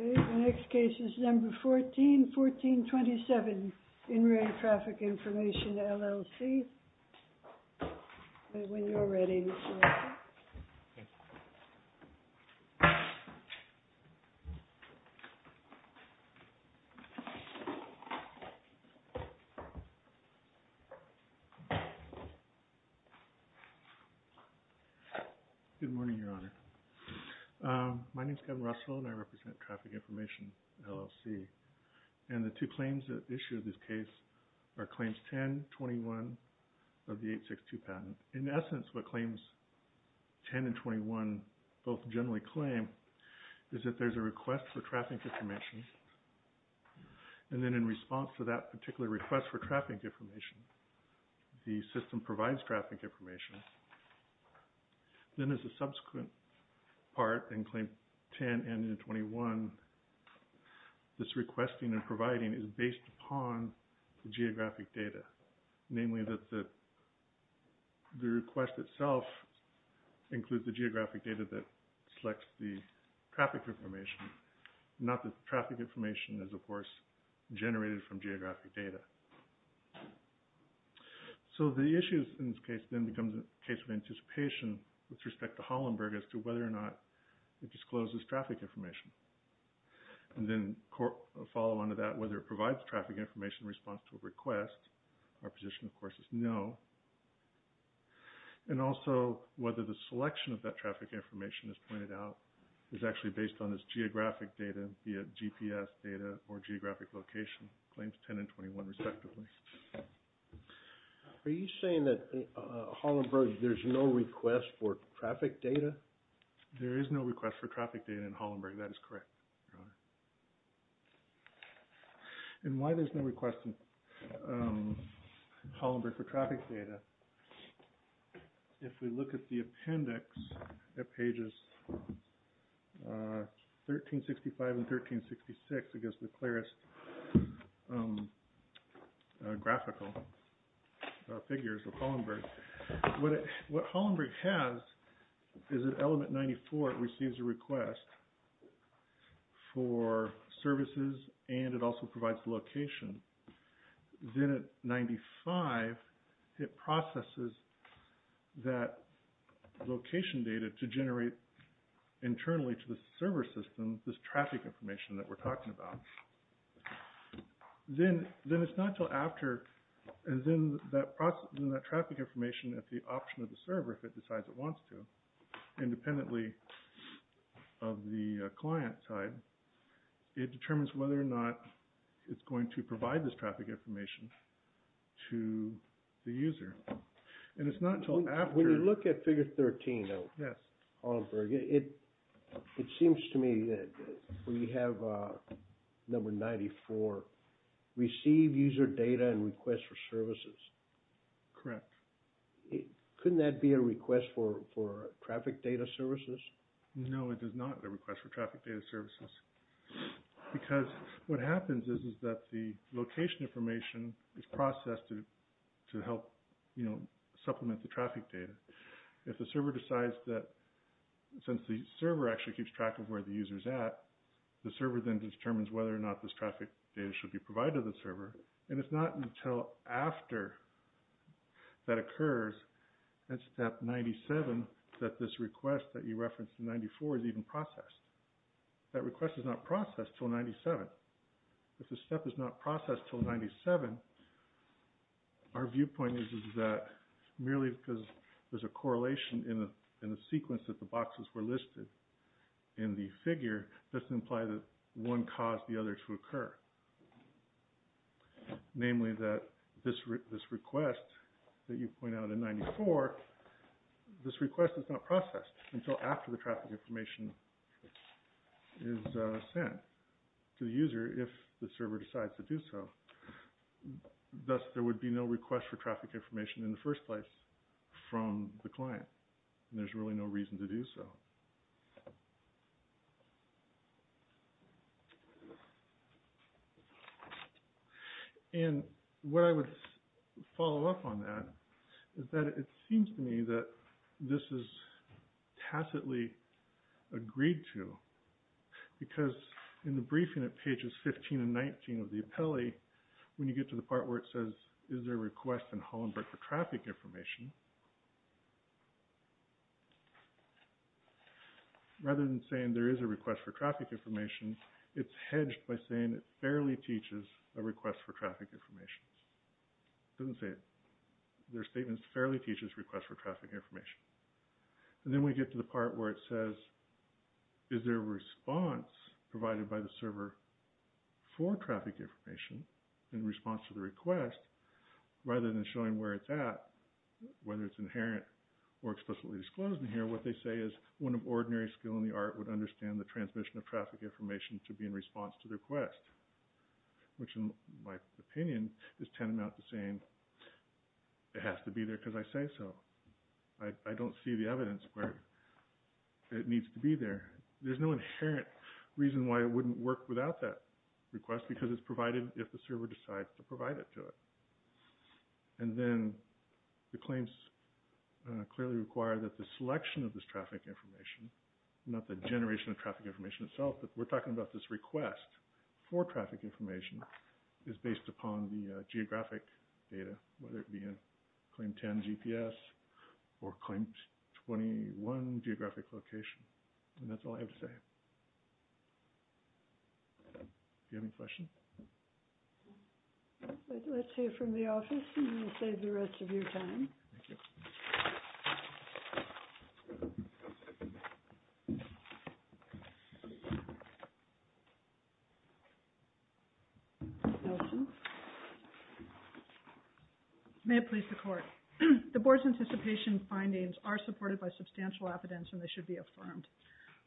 Okay, the next case is number 14, 1427, in-ring traffic information, LLC, when you're ready. Good morning, Your Honor. My name is Kevin Russell and I represent Traffic Information, LLC, and the two claims that issue this case are Claims 1021 of the 862 patent. And in essence, what Claims 10 and 21 both generally claim is that there's a request for traffic information, and then in response to that particular request for traffic information, the system provides traffic information. Then as a subsequent part in Claim 10 and 21, this requesting and providing is based upon the geographic data, namely that the request itself includes the geographic data that selects the traffic information, not that the traffic information is of course generated from geographic data. So the issue in this case then becomes a case of anticipation with respect to Hollenberg as to whether or not it discloses traffic information. And then a follow-on to that, whether it provides traffic information in response to a request, our position of course is no. And also whether the selection of that traffic information, as pointed out, is actually based on this geographic data via GPS data or geographic location, Claims 10 and 21 respectively. Are you saying that in Hollenberg there's no request for traffic data? There is no request for traffic data in Hollenberg. That is correct, Your Honor. And why there's no request in Hollenberg for traffic data, if we look at the appendix at pages 1365 and 1366, I guess the clearest graphical figures of Hollenberg, what Hollenberg has is at element 94 it receives a request for services and it also provides location. Then at 95 it processes that location data to generate internally to the server system this traffic information that we're talking about. Then it's not until after, and then that traffic information at the option of the server, if it decides it wants to, independently of the client side, it determines whether or not it's going to provide this traffic information to the user. And it's not until after... When you look at figure 13 of Hollenberg, it seems to me that we have number 94, receive user data and request for services. Correct. Couldn't that be a request for traffic data services? No, it is not a request for traffic data services. Because what happens is that the location information is processed to help supplement the traffic data. If the server decides that, since the server actually keeps track of where the user's at, the server then determines whether or not this traffic data should be provided to the server. And it's not until after that occurs, at step 97, that this request that you referenced in 94 is even processed. That request is not processed until 97. If the step is not processed until 97, our viewpoint is that merely because there's a correlation in the sequence that the boxes were listed in the figure, this implies that one caused the other to occur. Namely, that this request that you point out in 94, this request is not processed until after the traffic information is sent to the user if the server decides to do so. Thus, there would be no request for traffic information in the first place from the client. And there's really no reason to do so. And what I would follow up on that is that it seems to me that this is tacitly agreed to because in the briefing at pages 15 and 19 of the appellee, when you get to the part where it says, is there a request in Hollenberg for traffic information, rather than saying there is a request for traffic information, it's hedged by saying it fairly teaches a request for traffic information. It doesn't say it. Their statements fairly teaches requests for traffic information. And then we get to the part where it says, is there a response provided by the server for traffic information in response to the request, rather than showing where it's at, whether it's inherent or explicitly disclosed in here, what they say is one of ordinary skill in the art would understand the transmission of traffic information to be in response to the request, which in my opinion is tantamount to saying it has to be there because I say so. I don't see the evidence where it needs to be there. There's no inherent reason why it wouldn't work without that request because it's provided if the server decides to provide it to it. And then the claims clearly require that the selection of this traffic information, not the generation of traffic information itself, but we're talking about this request for traffic information is based upon the geographic data, whether it be a claim 10 GPS or claim 21 geographic location. And that's all I have to say. Do you have any questions? Let's hear from the office and we'll save the rest of your time. Thank you. May it please the court. The board's anticipation findings are supported by substantial evidence and they should be confirmed.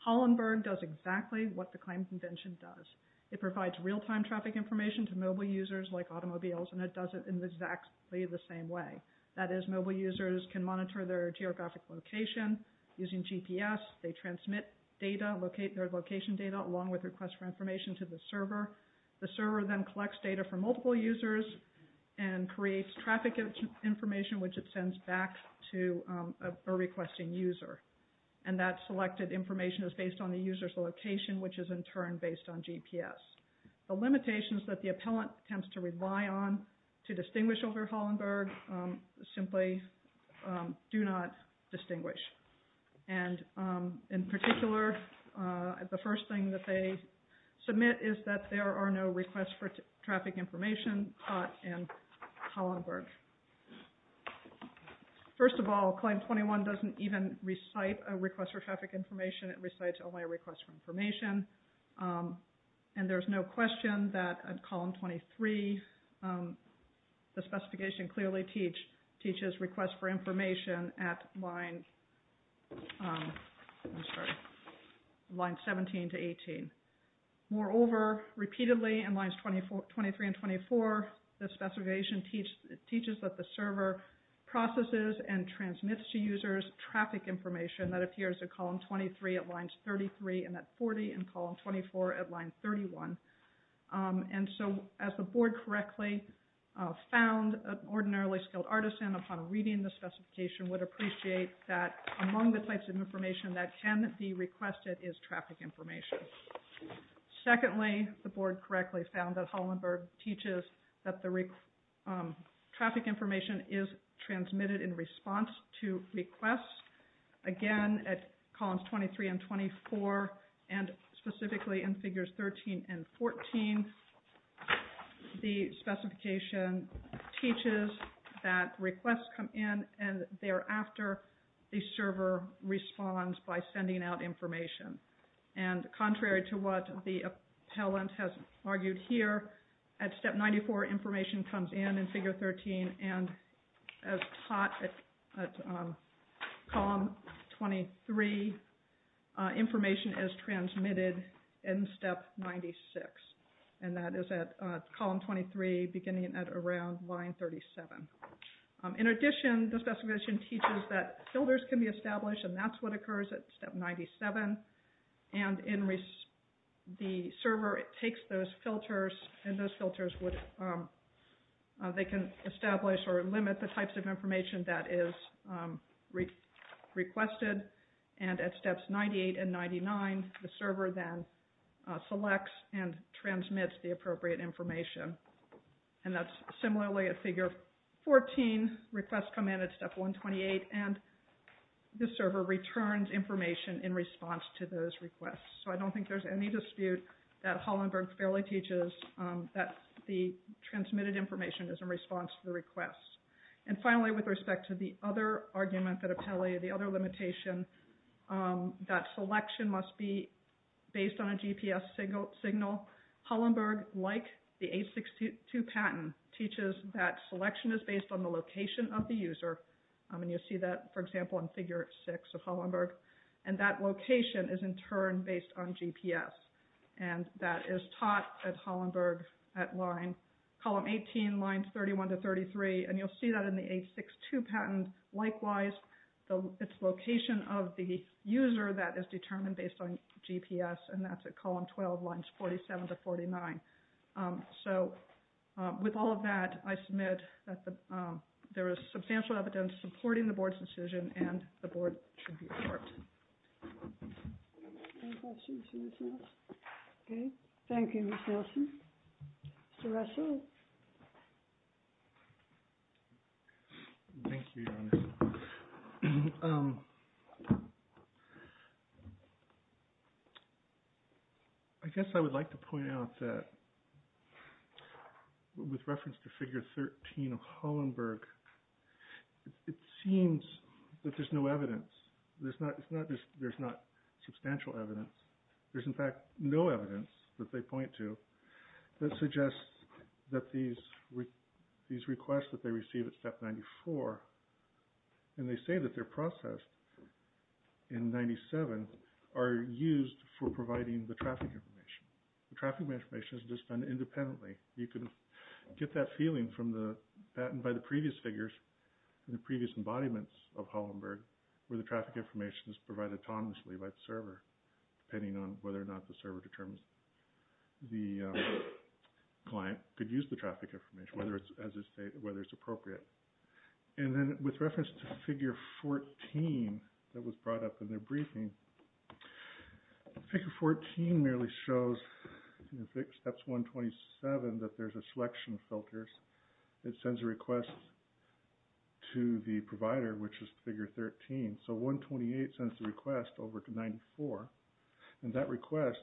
Hollenberg does exactly what the Claims Convention does. It provides real-time traffic information to mobile users like automobiles and it does it in exactly the same way. That is, mobile users can monitor their geographic location using GPS. They transmit their location data along with requests for information to the server. The server then collects data from multiple users and creates traffic information which it sends back to a requesting user. And that selected information is based on the user's location, which is in turn based on GPS. The limitations that the appellant tends to rely on to distinguish over Hollenberg simply do not distinguish. And in particular, the first thing that they submit is that there are no requests for traffic information caught in Hollenberg. First of all, Claim 21 doesn't even recite a request for traffic information, it recites only a request for information. And there's no question that at Column 23, the specification clearly teaches requests for information at Line 17 to 18. Moreover, repeatedly in Lines 23 and 24, the specification teaches that the server processes and transmits to users traffic information that appears at Column 23 at Line 33 and at 40 in Column 24 at Line 31. And so as the Board correctly found, an ordinarily skilled artisan upon reading the specification would appreciate that among the types of information that can be requested is traffic information. Secondly, the Board correctly found that Hollenberg teaches that the traffic information is transmitted in response to requests. Again, at Columns 23 and 24, and specifically in Figures 13 and 14, the specification teaches that requests come in and thereafter the server responds by sending out information. And contrary to what the appellant has argued here, at Step 94 information comes in in Figure 13 and as taught at Column 23, information is transmitted in Step 96, and that is at Column 23 beginning at around Line 37. In addition, the specification teaches that filters can be established, and that's what And in the server, it takes those filters, and those filters would, they can establish or limit the types of information that is requested, and at Steps 98 and 99, the server then selects and transmits the appropriate information. And that's similarly at Figure 14, requests come in at Step 128, and the server returns information in response to those requests. So I don't think there's any dispute that Hollenberg fairly teaches that the transmitted information is in response to the requests. And finally, with respect to the other argument that appellee, the other limitation, that selection must be based on a GPS signal, Hollenberg, like the 862 patent, teaches that selection is based on the location of the user, and you'll see that, for example, in Figure 6 of Hollenberg, and that location is in turn based on GPS, and that is taught at Hollenberg at Line, Column 18, Lines 31 to 33, and you'll see that in the 862 patent, likewise, it's location of the user that is determined based on GPS, and that's at Column 12, Lines 47 to 49. So, with all of that, I submit that there is substantial evidence supporting the Board's decision, and the Board should be approved. Any questions for Ms. Nielsen? Thank you, Ms. Nielsen. Mr. Russell? Thank you, Your Honor. I guess I would like to point out that, with reference to Figure 13 of Hollenberg, it seems that there's no evidence, there's not substantial evidence, there's in fact no evidence that they point to that suggests that these requests that they receive at Step 94, and they say that they're processed in 97, are used for providing the traffic information. The traffic information is just done independently. You can get that feeling from the patent by the previous figures, the previous embodiments of Hollenberg, where the traffic information is provided autonomously by the server, depending on whether or not the server determines the client could use the traffic information, whether it's appropriate. And then, with reference to Figure 14 that was brought up in their briefing, Figure 14 merely shows in Steps 127 that there's a selection of filters that sends a request to the provider, which is Figure 13. So, 128 sends the request over to 94, and that request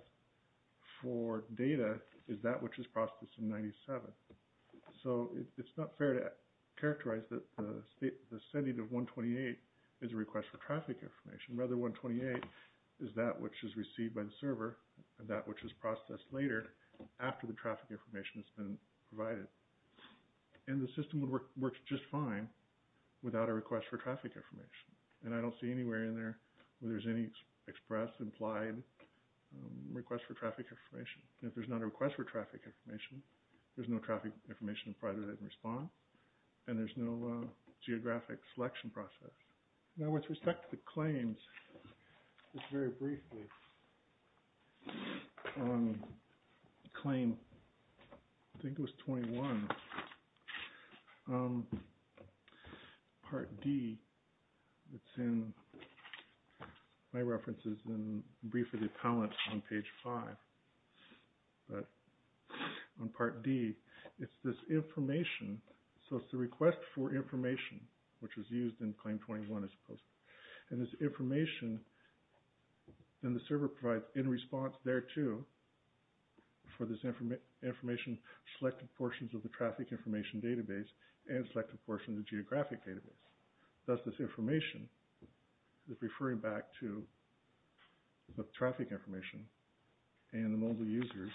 for data is that which is processed in 97. So, it's not fair to characterize that the sending of 128 is a request for traffic information. Rather, 128 is that which is received by the server, and that which is processed later after the traffic information has been provided. And the system would work just fine without a request for traffic information. And I don't see anywhere in there where there's any express implied request for traffic information. If there's not a request for traffic information, there's no traffic information provided in response, and there's no geographic selection process. Now, with respect to the claims, just very briefly, on Claim, I think it was 21, Part D, it's in, my reference is in Brief of the Appellant on Page 5, but on Part D, it's this request for information, which was used in Claim 21, I suppose. And this information in the server provides in response there, too, for this information selected portions of the traffic information database and selected portions of the geographic database. Thus, this information is referring back to the traffic information and the mobile users.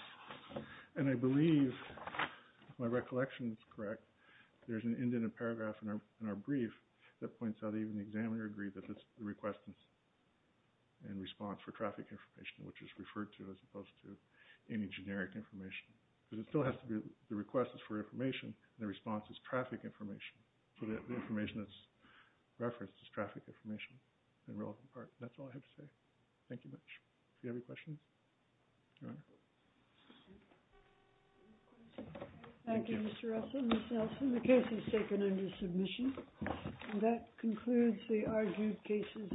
And I believe, if my recollection is correct, there's an indented paragraph in our brief that points out that even the examiner agreed that the request is in response for traffic information, which is referred to as opposed to any generic information. Because it still has to be, the request is for information, and the response is traffic information. So the information that's referenced is traffic information in a relevant part. That's all I have to say. Thank you much. If you have any questions. Your Honor. Thank you, Mr. Russell. Ms. Nelson, the case is taken under submission. And that concludes the argued cases.